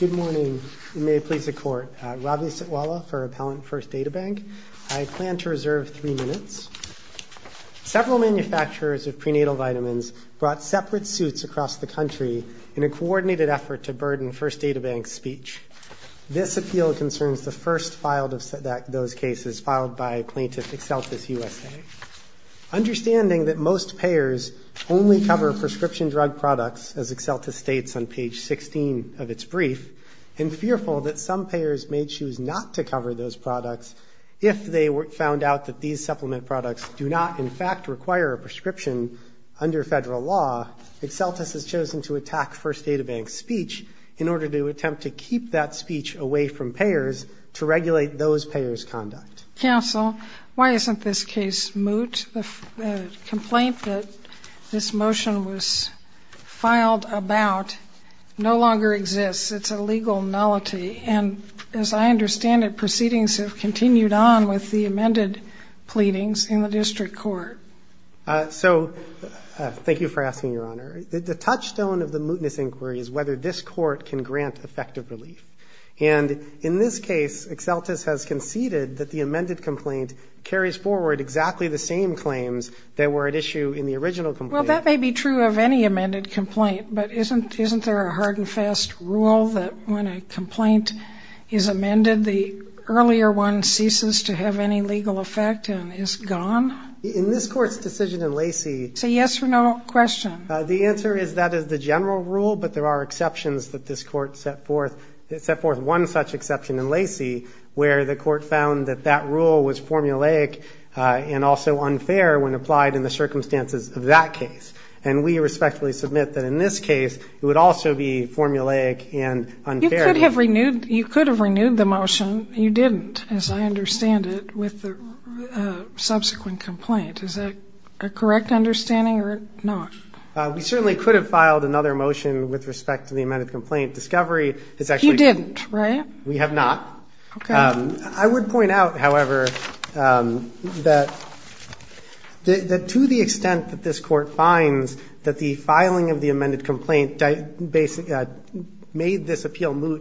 Good morning, and may it please the Court. Ravi Sitwala for Appellant First DataBank. I plan to reserve three minutes. Several manufacturers of prenatal vitamins brought separate suits across the country in a coordinated effort to burden First DataBank's speech. This appeal concerns the first filed of those cases, filed by Plaintiff Exeltis USA. Understanding that most payers only cover prescription drug products, as Exeltis states on page 16 of its brief, and fearful that some payers may choose not to cover those products if they found out that these supplement products do not, in fact, require a prescription under federal law, Exeltis has chosen to attack First DataBank's speech in order to attempt to keep that speech away from payers to regulate those payers' conduct. Counsel, why isn't this case moot? The complaint that this motion was filed about no longer exists. It's a legal nullity. And as I understand it, proceedings have continued on with the amended pleadings in the district court. So thank you for asking, Your Honor. The touchstone of the mootness inquiry is whether this court can grant effective relief. And in this case, Exeltis has conceded that the amended complaint carries forward exactly the same claims that were at issue in the original complaint. Well, that may be true of any amended complaint, but isn't there a hard and fast rule that when a complaint is amended, the earlier one ceases to have any legal effect and is gone? In this Court's decision in Lacey. It's a yes or no question. The answer is that is the general rule, but there are exceptions that this court set forth. It set forth one such exception in Lacey where the court found that that rule was formulaic and also unfair when applied in the circumstances of that case. And we respectfully submit that in this case it would also be formulaic and unfair. You could have renewed the motion. You didn't, as I understand it, with the subsequent complaint. Is that a correct understanding or not? We certainly could have filed another motion with respect to the amended complaint. Discovery is actually. You didn't, right? We have not. Okay. I would point out, however, that to the extent that this court finds that the filing of the amended complaint we would respectfully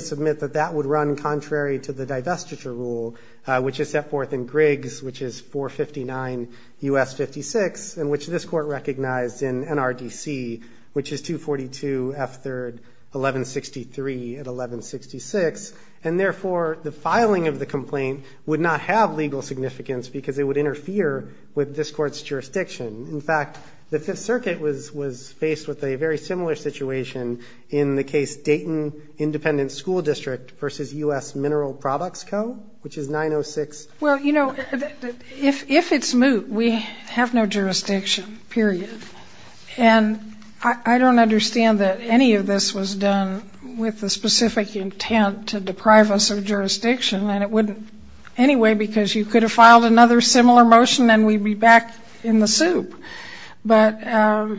submit that that would run contrary to the divestiture rule, which is set forth in Griggs, which is 459 U.S. 56, and which this court recognized in NRDC, which is 242 F3rd 1163 at 1166. And therefore, the filing of the complaint would not have legal significance because it would interfere with this court's jurisdiction. In fact, the Fifth Circuit was faced with a very similar situation in the case Dayton Independent School District versus U.S. Mineral Products Co., which is 906. Well, you know, if it's moot, we have no jurisdiction, period. And I don't understand that any of this was done with the specific intent to deprive us of jurisdiction, and it wouldn't anyway because you could have filed another similar motion and we'd be back in the soup. But I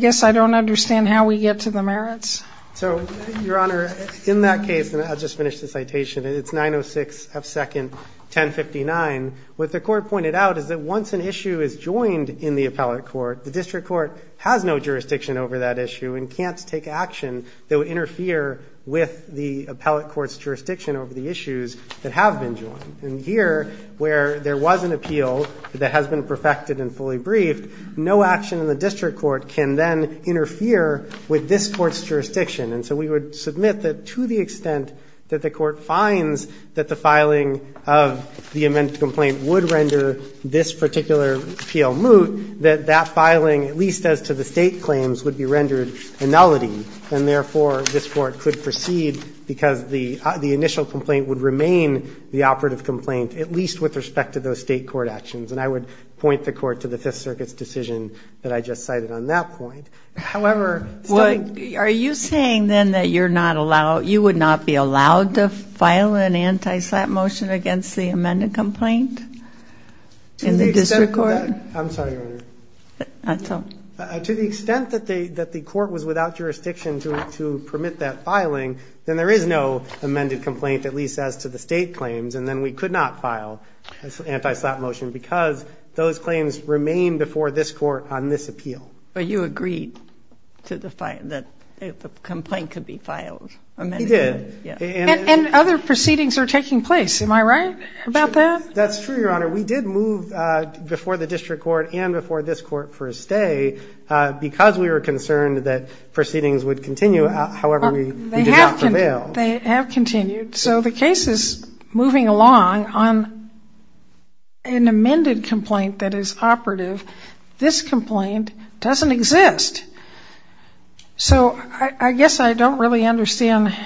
guess I don't understand how we get to the merits. So, Your Honor, in that case, and I'll just finish the citation, it's 906 F2nd 1059. What the court pointed out is that once an issue is joined in the appellate court, the district court has no jurisdiction over that issue and can't take action that would interfere with the appellate court's jurisdiction over the issues that have been joined. And here, where there was an appeal that has been perfected and fully briefed, no action in the district court can then interfere with this court's jurisdiction. And so we would submit that to the extent that the court finds that the filing of the amended complaint would render this particular appeal moot, that that filing, at least as to the State claims, would be rendered a nullity. And therefore, this court could proceed because the initial complaint would remain the operative complaint, at least with respect to those State court actions. And I would point the court to the Fifth Circuit's decision that I just cited on that point. However, still ---- Well, are you saying then that you're not allowed, you would not be allowed to file an anti-slap motion against the amended complaint in the district court? I'm sorry, Your Honor. To the extent that the court was without jurisdiction to permit that filing, then there is no amended complaint, at least as to the State claims. And then we could not file an anti-slap motion because those claims remain before this court on this appeal. But you agreed that the complaint could be filed. He did. And other proceedings are taking place. Am I right about that? That's true, Your Honor. We did move before the district court and before this court for a stay because we were concerned that proceedings would continue. However, we did not prevail. They have continued. So the case is moving along on an amended complaint that is operative. This complaint doesn't exist. So I guess I don't really understand.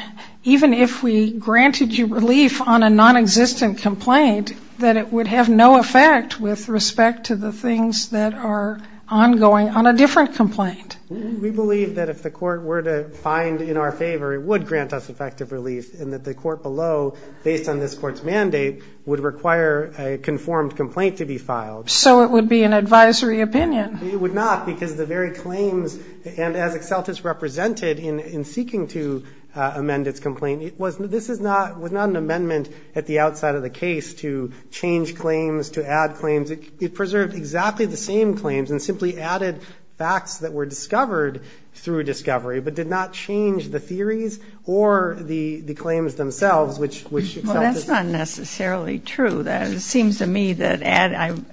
Even if we granted you relief on a nonexistent complaint, that it would have no effect with respect to the things that are ongoing on a different complaint. We believe that if the court were to find in our favor, it would grant us effective relief and that the court below, based on this court's mandate, would require a conformed complaint to be filed. So it would be an advisory opinion. It would not because the very claims, and as Excelltis represented in seeking to amend its complaint, this was not an amendment at the outside of the case to change claims, to add claims. It preserved exactly the same claims and simply added facts that were discovered through discovery, but did not change the theories or the claims themselves, which Excelltis. Well, that's not necessarily true. It seems to me that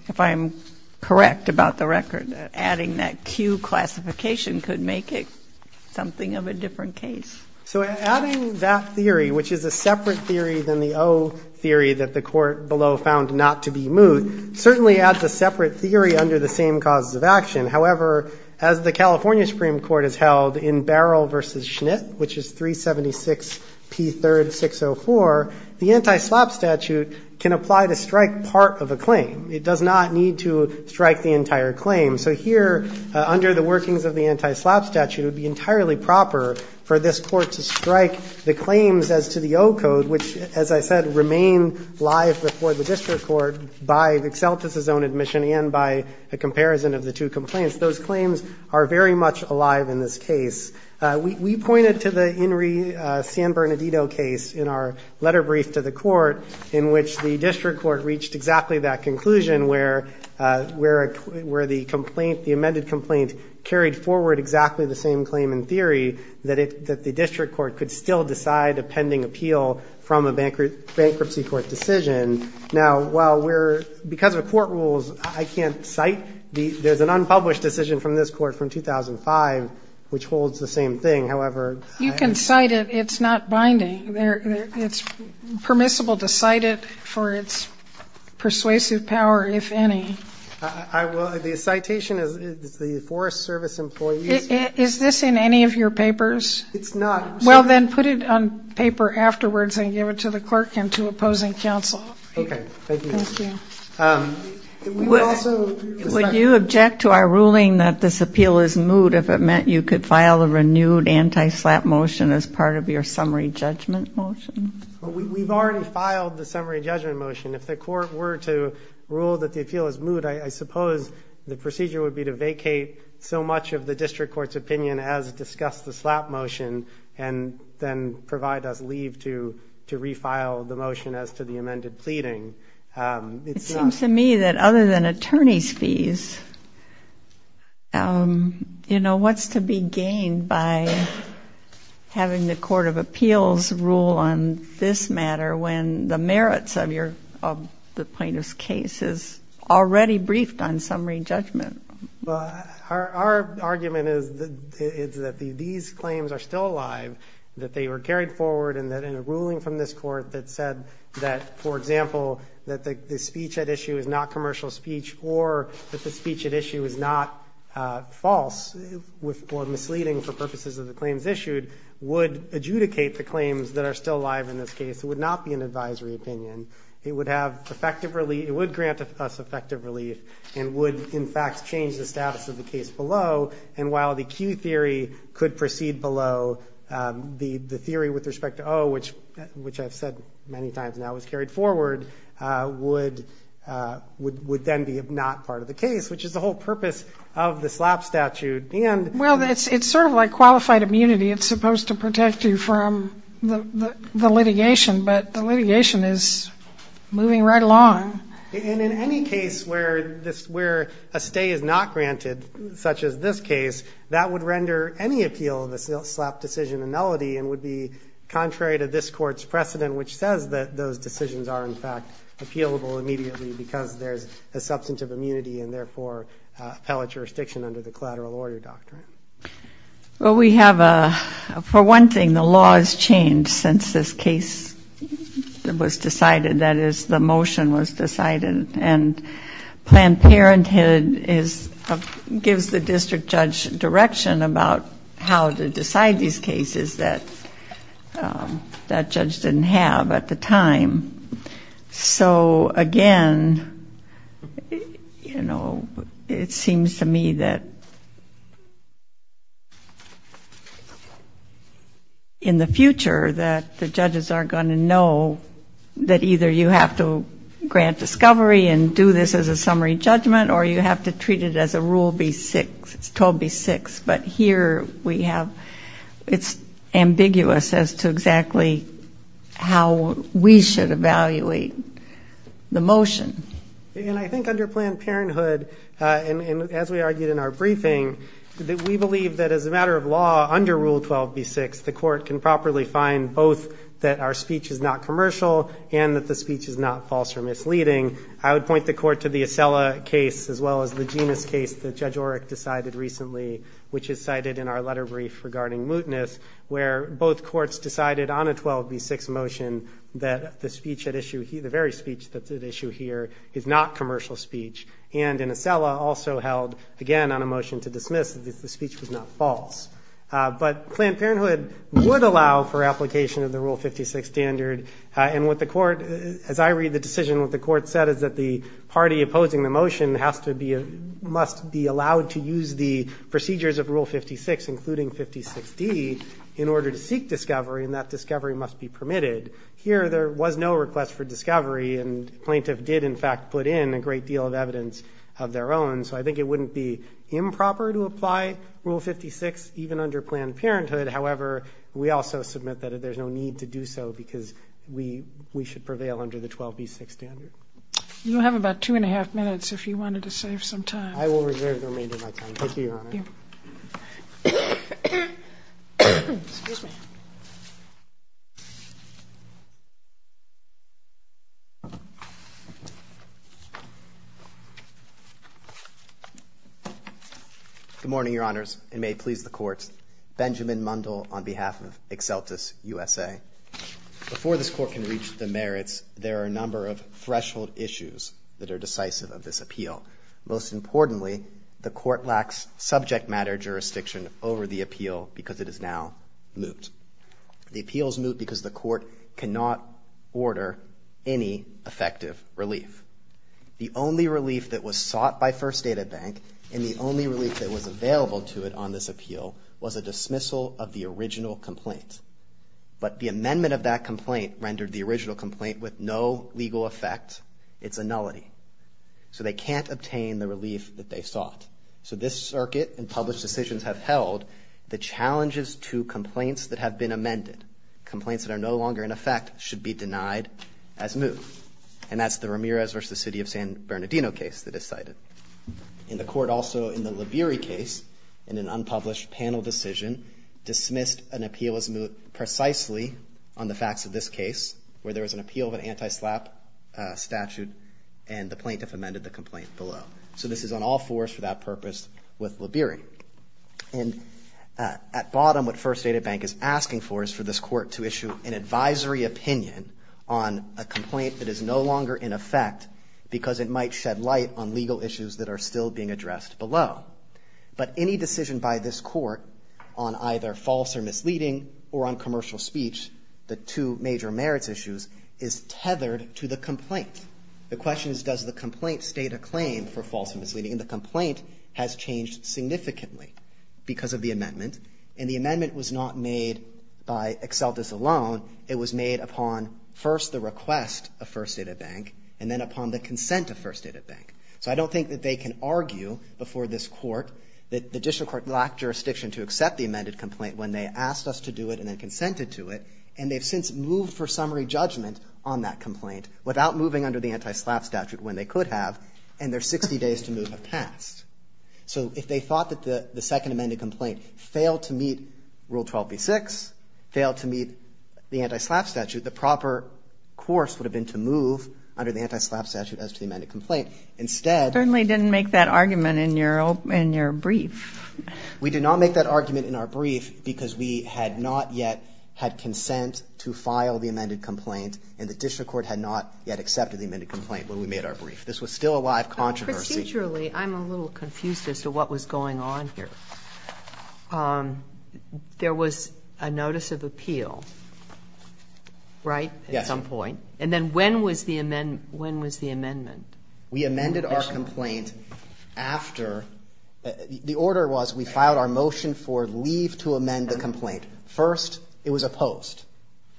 if I'm correct about the record, adding that Q classification could make it something of a different case. So adding that theory, which is a separate theory than the O theory that the court below found not to be moot, certainly adds a separate theory under the same causes of action. However, as the California Supreme Court has held in Barrel v. Schnitt, which is 376P3-604, the anti-SLAP statute can apply to strike part of a claim. It does not need to strike the entire claim. So here, under the workings of the anti-SLAP statute, it would be entirely proper for this Court to strike the claims as to the O code, which, as I said, remain live before the district court by Excelltis' own admission and by a comparison of the two complaints. Those claims are very much alive in this case. We pointed to the Inri San Bernardino case in our letter brief to the court, in which the district court reached exactly that conclusion, where the amended complaint carried forward exactly the same claim in theory, that the district court could still decide a pending appeal from a bankruptcy court decision. Now, because of court rules, I can't cite. There's an unpublished decision from this court from 2005, which holds the same thing. However, I can't. You can cite it. It's not binding. It's permissible to cite it for its persuasive power, if any. The citation is the Forest Service employees. Is this in any of your papers? It's not. Well, then put it on paper afterwards and give it to the clerk and to opposing counsel. Okay. Thank you. Thank you. Would you object to our ruling that this appeal is moot, if it meant you could file a renewed anti-SLAPP motion as part of your summary judgment motion? We've already filed the summary judgment motion. If the court were to rule that the appeal is moot, I suppose the procedure would be to vacate so much of the district court's opinion as discussed the SLAPP motion and then provide us leave to refile the motion as to the amended pleading. It seems to me that other than attorney's fees, what's to be gained by having the Court of Appeals rule on this matter when the merits of the plaintiff's case is already briefed on summary judgment? Our argument is that these claims are still alive, that they were carried forward, and that in a ruling from this court that said that, for example, that the speech at issue is not commercial speech or that the speech at issue is not false or misleading for purposes of the claims issued, would adjudicate the claims that are still alive in this case. It would not be an advisory opinion. It would grant us effective relief and would, in fact, change the status of the case below. And while the Q theory could proceed below, the theory with respect to O, which I've said many times now was carried forward, would then be not part of the case, which is the whole purpose of the SLAPP statute. Well, it's sort of like qualified immunity. It's supposed to protect you from the litigation, but the litigation is moving right along. And in any case where a stay is not granted, such as this case, that would render any appeal of the SLAPP decision a nullity and would be contrary to this court's precedent, which says that those decisions are, in fact, appealable immediately because there's a substantive immunity and therefore appellate jurisdiction under the collateral order doctrine. Well, we have a ‑‑ for one thing, the law has changed since this case was decided. That is, the motion was decided. And Planned Parenthood gives the district judge direction about how to decide these cases that that judge didn't have at the time. So, again, you know, it seems to me that in the future that the judges are going to know that either you have to grant discovery and do this as a summary judgment or you have to treat it as a Rule B6, 12B6. But here we have ‑‑ it's ambiguous as to exactly how we should evaluate the motion. And I think under Planned Parenthood, and as we argued in our briefing, that we believe that as a matter of law under Rule 12B6, the court can properly find both that our speech is not commercial and that the speech is not false or misleading. I would point the court to the Acela case as well as the Genis case that Judge Oreck decided recently, which is cited in our letter brief regarding mootness, where both courts decided on a 12B6 motion that the speech at issue, the very speech that's at issue here, is not commercial speech. And in Acela, also held, again, on a motion to dismiss, that the speech was not false. But Planned Parenthood would allow for application of the Rule 56 standard. And as I read the decision, what the court said is that the party opposing the motion must be allowed to use the procedures of Rule 56, including 56D, in order to seek discovery, and that discovery must be permitted. Here there was no request for discovery, and the plaintiff did, in fact, put in a great deal of evidence of their own. So I think it wouldn't be improper to apply Rule 56, even under Planned Parenthood. However, we also submit that there's no need to do so because we should prevail under the 12B6 standard. You have about two and a half minutes if you wanted to save some time. I will reserve the remainder of my time. Thank you, Your Honor. Thank you. Good morning, Your Honors, and may it please the Court. Benjamin Mundell on behalf of Exceltis USA. Before this Court can reach the merits, there are a number of threshold issues that are decisive of this appeal. Most importantly, the Court lacks subject matter jurisdiction over the appeal because it is now moot. The appeal is moot because the Court cannot order any effective relief. The only relief that was sought by First Data Bank, and the only relief that was available to it on this appeal, was a dismissal of the original complaint. But the amendment of that complaint rendered the original complaint with no legal effect. It's a nullity. So they can't obtain the relief that they sought. So this circuit and published decisions have held the challenges to complaints that have been amended. Complaints that are no longer in effect should be denied as moot. And that's the Ramirez v. the City of San Bernardino case that is cited. And the Court also, in the Liberi case, in an unpublished panel decision, dismissed an appeal as moot precisely on the facts of this case, where there was an appeal of an anti-SLAPP statute and the plaintiff amended the complaint below. So this is on all fours for that purpose with Liberi. And at bottom, what First Data Bank is asking for is for this Court to issue an advisory opinion on a complaint that is no longer in effect because it might shed light on legal issues that are still being addressed below. But any decision by this Court on either false or misleading or on commercial speech, the two major merits issues, is tethered to the complaint. The question is, does the complaint state a claim for false or misleading? And the complaint has changed significantly because of the amendment. And the amendment was not made by Excelltis alone. It was made upon, first, the request of First Data Bank and then upon the consent of First Data Bank. So I don't think that they can argue before this Court that the District Court lacked jurisdiction to accept the amended complaint when they asked us to do it and then consented to it. And they've since moved for summary judgment on that complaint without moving under the anti-SLAPP statute when they could have, and their 60 days to move have passed. So if they thought that the second amended complaint failed to meet Rule 12b-6, failed to meet the anti-SLAPP statute, the proper course would have been to move under the anti-SLAPP statute as to the amended complaint. Instead— You certainly didn't make that argument in your brief. We did not make that argument in our brief because we had not yet had consent to file the amended complaint and the District Court had not yet accepted the amended complaint when we made our brief. This was still a live controversy. But procedurally, I'm a little confused as to what was going on here. There was a notice of appeal, right, at some point? Yes. And then when was the amendment? We amended our complaint after—the order was we filed our motion for leave to amend the complaint. First, it was opposed.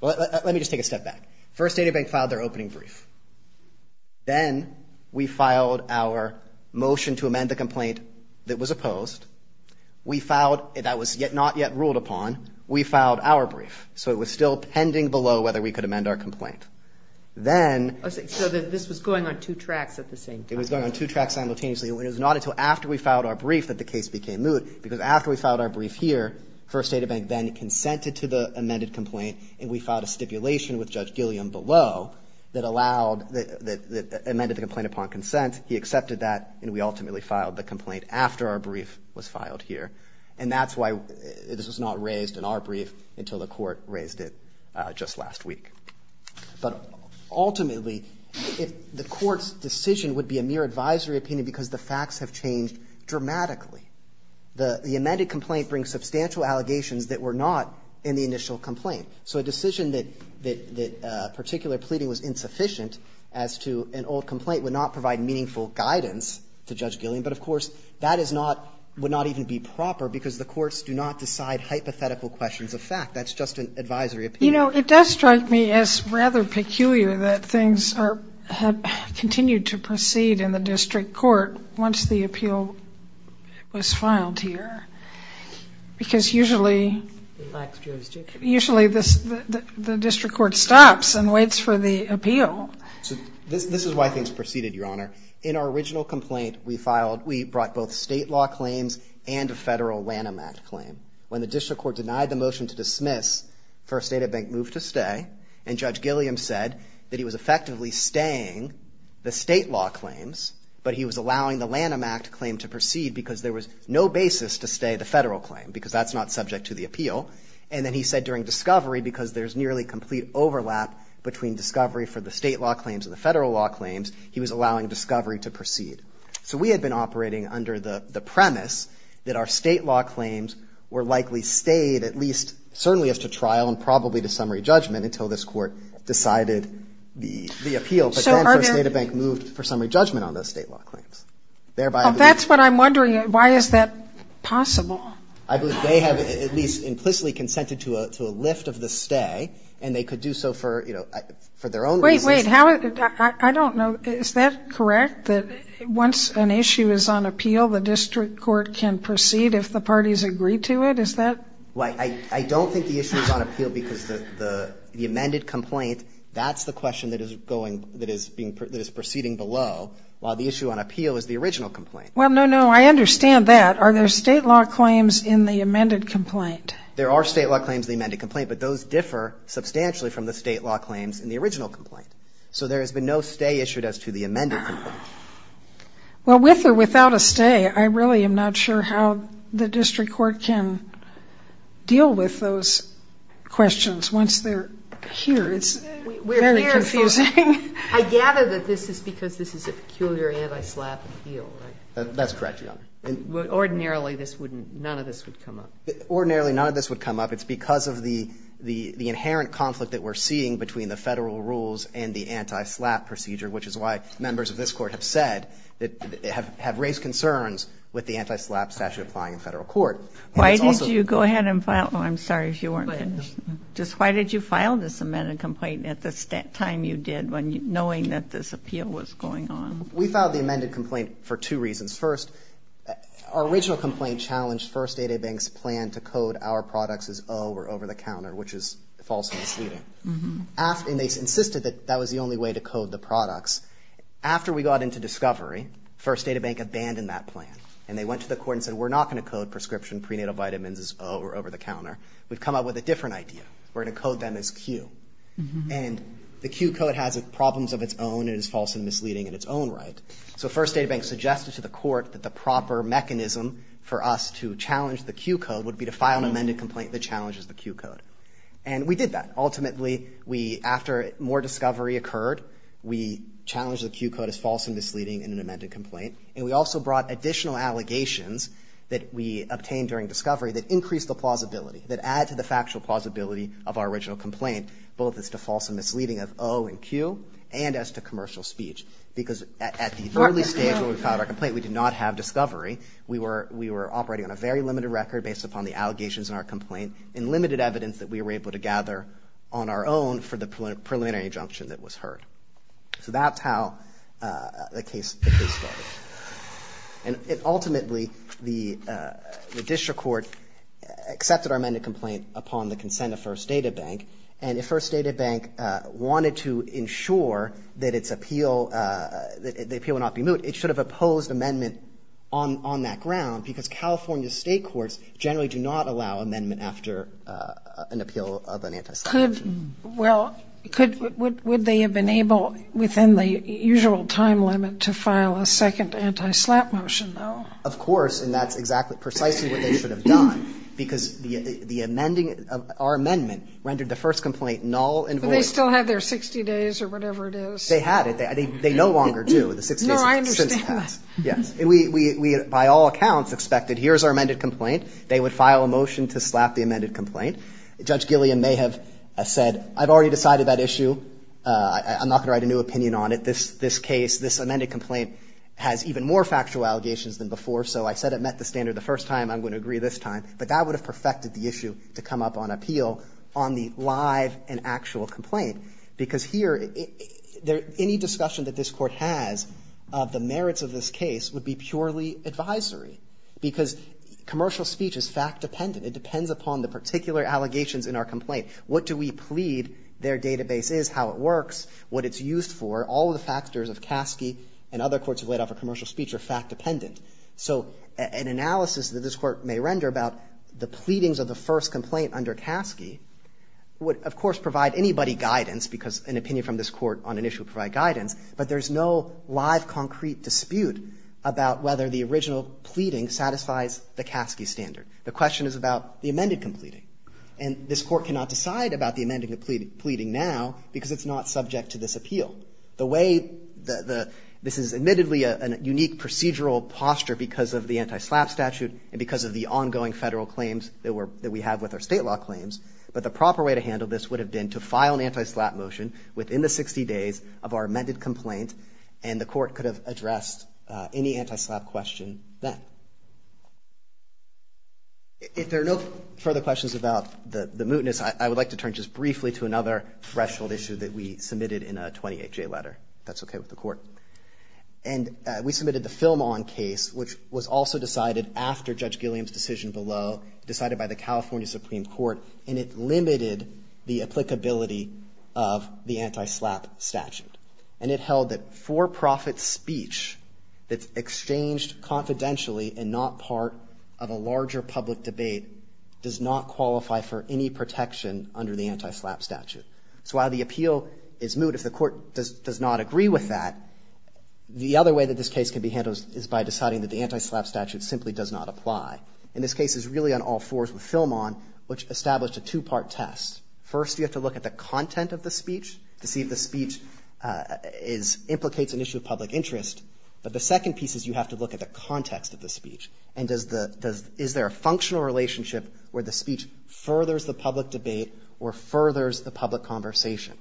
Let me just take a step back. First, Adiabank filed their opening brief. Then we filed our motion to amend the complaint that was opposed. We filed—that was not yet ruled upon. We filed our brief. So it was still pending below whether we could amend our complaint. So this was going on two tracks at the same time. It was going on two tracks simultaneously. It was not until after we filed our brief that the case became moot because after we filed our brief here, First, Adiabank then consented to the amended complaint and we filed a stipulation with Judge Gilliam below that allowed—that amended the complaint upon consent. He accepted that and we ultimately filed the complaint after our brief was filed here. And that's why this was not raised in our brief until the court raised it just last week. But ultimately, the court's decision would be a mere advisory opinion because the facts have changed dramatically. The amended complaint brings substantial allegations that were not in the initial complaint. So a decision that particular pleading was insufficient as to an old complaint would not provide meaningful guidance to Judge Gilliam. But, of course, that is not—would not even be proper because the courts do not decide hypothetical questions of fact. That's just an advisory opinion. You know, it does strike me as rather peculiar that things are— have continued to proceed in the district court once the appeal was filed here. Because usually— It lacks jurisdiction. Usually the district court stops and waits for the appeal. So this is why things proceeded, Your Honor. In our original complaint, we filed—we brought both state law claims and a federal Lanham Act claim. When the district court denied the motion to dismiss, First Data Bank moved to stay and Judge Gilliam said that he was effectively staying the state law claims, but he was allowing the Lanham Act claim to proceed because there was no basis to stay the federal claim because that's not subject to the appeal. And then he said during discovery, because there's nearly complete overlap between discovery for the state law claims and the federal law claims, he was allowing discovery to proceed. So we had been operating under the premise that our state law claims were likely stayed at least—certainly as to trial and probably to summary judgment until this court decided the appeal. But then First Data Bank moved for summary judgment on those state law claims. Thereby— Well, that's what I'm wondering. Why is that possible? I believe they have at least implicitly consented to a lift of the stay, and they could do so for, you know, for their own reasons. Wait, wait. I don't know. Is that correct, that once an issue is on appeal, the district court can proceed if the parties agree to it? Is that— Well, I don't think the issue is on appeal because the amended complaint, that's the question that is proceeding below, while the issue on appeal is the original complaint. Well, no, no. I understand that. Are there state law claims in the amended complaint? There are state law claims in the amended complaint, but those differ substantially from the state law claims in the original complaint. So there has been no stay issued as to the amended complaint. Well, with or without a stay, I really am not sure how the district court can deal with those questions once they're here. It's very confusing. We're here, so I gather that this is because this is a peculiar anti-slap appeal, right? That's correct, Your Honor. Ordinarily, this wouldn't, none of this would come up. Ordinarily, none of this would come up. It's because of the inherent conflict that we're seeing between the federal rules and the anti-slap procedure, which is why members of this court have said, have raised concerns with the anti-slap statute applying in federal court. Why did you go ahead and file—I'm sorry if you weren't finished. Just why did you file this amended complaint at the time you did, knowing that this appeal was going on? We filed the amended complaint for two reasons. First, our original complaint challenged First Data Bank's plan to code our products as O or over-the-counter, which is false and misleading. And they insisted that that was the only way to code the products. After we got into discovery, First Data Bank abandoned that plan, and they went to the court and said, we're not going to code prescription prenatal vitamins as O or over-the-counter. We've come up with a different idea. We're going to code them as Q. And the Q code has problems of its own and is false and misleading in its own right. So First Data Bank suggested to the court that the proper mechanism for us to challenge the Q code would be to file an amended complaint that challenges the Q code. And we did that. Ultimately, we, after more discovery occurred, we challenged the Q code as false and misleading in an amended complaint. And we also brought additional allegations that we obtained during discovery that increased the plausibility, that add to the factual plausibility of our original complaint, both as to false and misleading of O and Q and as to commercial speech. Because at the early stage when we filed our complaint, we did not have discovery. We were operating on a very limited record based upon the allegations in our complaint and limited evidence that we were able to gather on our own for the preliminary injunction that was heard. So that's how the case started. And ultimately, the district court accepted our amended complaint upon the consent of First Data Bank. And if First Data Bank wanted to ensure that the appeal would not be moved, it should have opposed amendment on that ground because California state courts generally do not allow amendment after an appeal of an anti-slap motion. Well, would they have been able within the usual time limit to file a second anti-slap motion, though? Of course. And that's exactly precisely what they should have done because the amending of our amendment rendered the first complaint null and void. But they still have their 60 days or whatever it is. They had it. They no longer do. The 60 days have since passed. No, I understand that. Yes. We, by all accounts, expected here's our amended complaint. They would file a motion to slap the amended complaint. Judge Gilliam may have said I've already decided that issue. I'm not going to write a new opinion on it. This case, this amended complaint has even more factual allegations than before. So I said it met the standard the first time. I'm going to agree this time. But that would have perfected the issue to come up on appeal on the live and actual complaint because here any discussion that this Court has of the merits of this case would be purely advisory because commercial speech is fact-dependent. It depends upon the particular allegations in our complaint. What do we plead their database is, how it works, what it's used for. All of the factors of Caskey and other courts who have laid off commercial speech are fact-dependent. So an analysis that this Court may render about the pleadings of the first complaint under Caskey would, of course, provide anybody guidance because an opinion from this Court on an issue would provide guidance. But there's no live concrete dispute about whether the original pleading satisfies the Caskey standard. The question is about the amended completing. And this Court cannot decide about the amended completing now because it's not subject to this appeal. This is admittedly a unique procedural posture because of the anti-SLAPP statute and because of the ongoing federal claims that we have with our state law claims. But the proper way to handle this would have been to file an anti-SLAPP motion within the 60 days of our amended complaint. And the Court could have addressed any anti-SLAPP question then. If there are no further questions about the mootness, I would like to turn just briefly to another threshold issue that we submitted in a 28-J letter, if that's okay with the Court. And we submitted the Film-On case, which was also decided after Judge Gilliam's decision below, decided by the California Supreme Court, and it limited the applicability of the anti-SLAPP statute. And it held that for-profit speech that's exchanged confidentially and not part of a larger public debate does not qualify for any protection under the anti-SLAPP statute. So while the appeal is moot, if the Court does not agree with that, the other way that this case can be handled is by deciding that the anti-SLAPP statute simply does not apply. And this case is really on all fours with Film-On, which established a two-part test. First, you have to look at the content of the speech to see if the speech implicates an issue of public interest. But the second piece is you have to look at the context of the speech, and is there a functional relationship where the speech furthers the public debate or furthers the public conversation.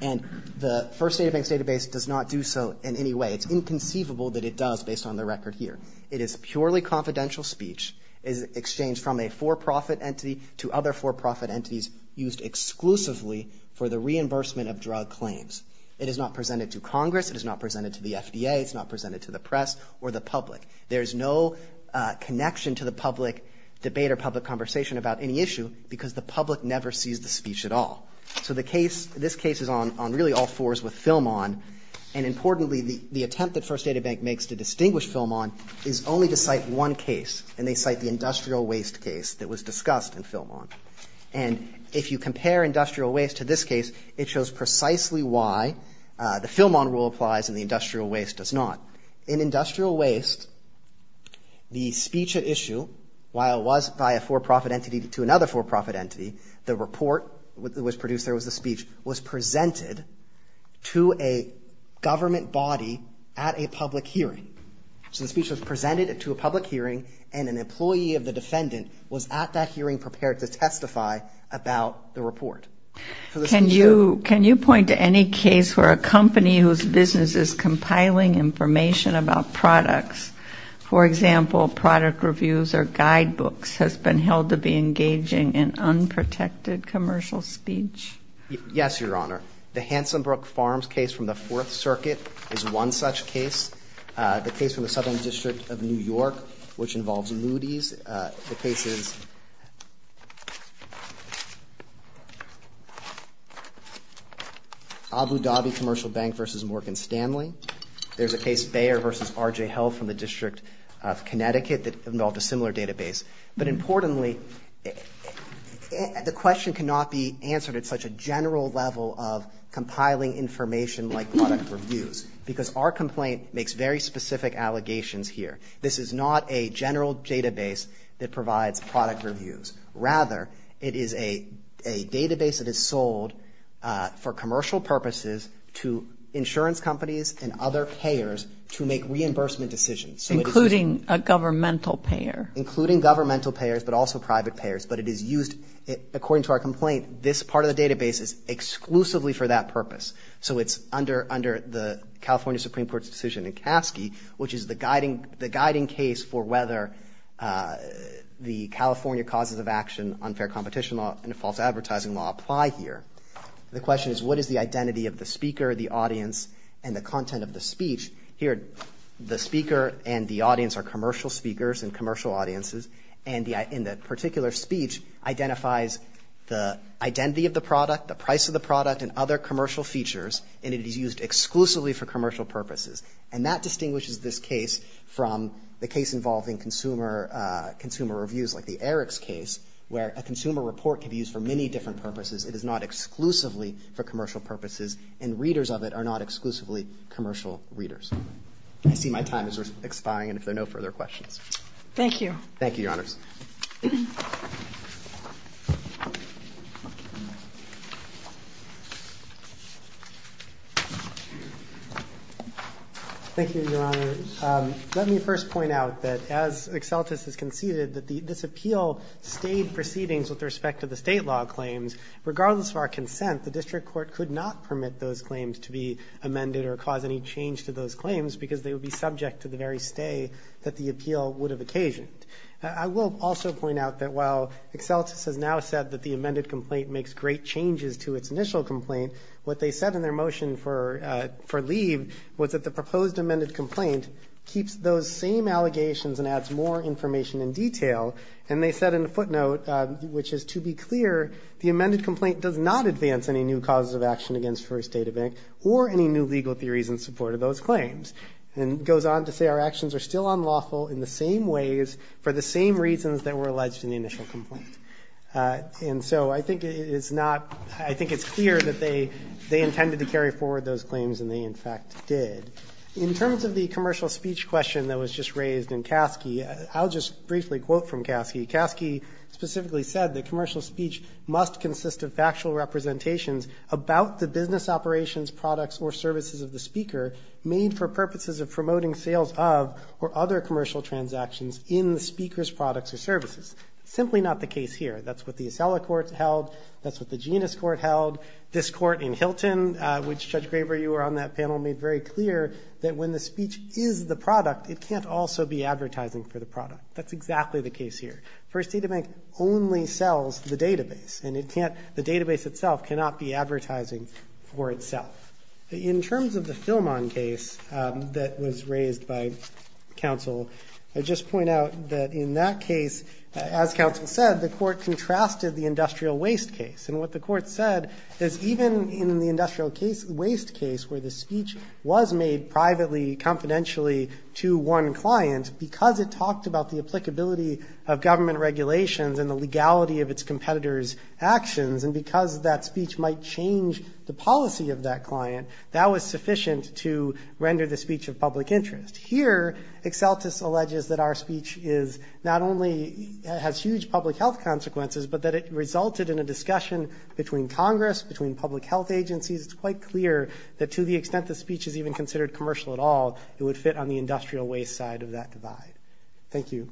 And the First Database does not do so in any way. It's inconceivable that it does, based on the record here. It is purely confidential speech exchanged from a for-profit entity to other for-profit entities used exclusively for the reimbursement of drug claims. It is not presented to Congress, it is not presented to the FDA, it's not presented to the press or the public. There is no connection to the public debate or public conversation about any issue because the public never sees the speech at all. So this case is on really all fours with Film-On, and importantly, the attempt that First Database makes to distinguish Film-On is only to cite one case, and they cite the industrial waste case that was discussed in Film-On. And if you compare industrial waste to this case, it shows precisely why the Film-On rule applies and the industrial waste does not. In industrial waste, the speech at issue, while it was by a for-profit entity to another for-profit entity, the report that was produced there was the speech, was presented to a government body at a public hearing. So the speech was presented to a public hearing, and an employee of the defendant was at that hearing prepared to testify. About the report. Can you point to any case where a company whose business is compiling information about products, for example, product reviews or guidebooks, has been held to be engaging in unprotected commercial speech? Yes, Your Honor. The Hansenbrook Farms case from the Fourth Circuit is one such case. The case from the Southern District of New York, which involves Moody's. The case is Abu Dhabi Commercial Bank v. Morgan Stanley. There's a case, Bayer v. RJ Health from the District of Connecticut that involved a similar database. But importantly, the question cannot be answered at such a general level of compiling information like product reviews because our complaint makes very specific allegations here. This is not a general database that provides product reviews. Rather, it is a database that is sold for commercial purposes to insurance companies and other payers to make reimbursement decisions. Including a governmental payer. Including governmental payers, but also private payers. But it is used, according to our complaint, this part of the database is exclusively for that purpose. So it's under the California Supreme Court's decision in Caskey, which is the guiding case for whether the California Causes of Action, Unfair Competition Law, and False Advertising Law apply here. The question is, what is the identity of the speaker, the audience, and the content of the speech? Here, the speaker and the audience are commercial speakers and commercial audiences. And that particular speech identifies the identity of the product, the price of the product, and other commercial features, and it is used exclusively for commercial purposes. And that distinguishes this case from the case involving consumer reviews, like the Eriks case, where a consumer report can be used for many different purposes. It is not exclusively for commercial purposes, and readers of it are not exclusively commercial readers. I see my time is expiring, and if there are no further questions. Thank you. Thank you, Your Honor. Let me first point out that, as Excelltis has conceded, that this appeal stayed proceedings with respect to the state law claims. Regardless of our consent, the district court could not permit those claims to be amended or cause any change to those claims, because they would be subject to the very stay that the appeal would have occasioned. I will also point out that while Excelltis has now said that the amended complaint makes great changes to its initial complaint, what they said in their motion for leave was that the proposed amended complaint keeps those same allegations and adds more information and detail. And they said in a footnote, which is to be clear, the amended complaint does not advance any new causes of action against First Data Bank or any new legal theories in support of those claims, and goes on to say our actions are still unlawful in the same ways for the same reasons that were alleged in the initial complaint. And so I think it's clear that they intended to carry forward those claims, and they in fact did. In terms of the commercial speech question that was just raised in Caskey, I'll just briefly quote from Caskey. Caskey specifically said that commercial speech must consist of factual representations about the business operations, products, or services of the speaker made for purposes of promoting sales of or other commercial transactions in the speaker's products or services. Simply not the case here. That's what the Acela court held. That's what the Genis court held. This court in Hilton, which Judge Graber, you were on that panel, made very clear that when the speech is the product, it can't also be advertising for the product. That's exactly the case here. First Data Bank only sells the database, and the database itself cannot be advertising for itself. In terms of the Philmon case that was raised by counsel, I just point out that in that case, as counsel said, the court contrasted the industrial waste case. And what the court said is even in the industrial waste case where the speech was made privately, confidentially to one client, because it talked about the applicability of government regulations and the legality of its competitors' actions, and because that speech might change the policy of that client, that was sufficient to render the speech of public interest. Here, Exceltis alleges that our speech is not only, has huge public health consequences, but that it resulted in a discussion between Congress, between public health agencies. It's quite clear that to the extent the speech is even considered commercial at all, it would fit on the industrial waste side of that divide. Thank you.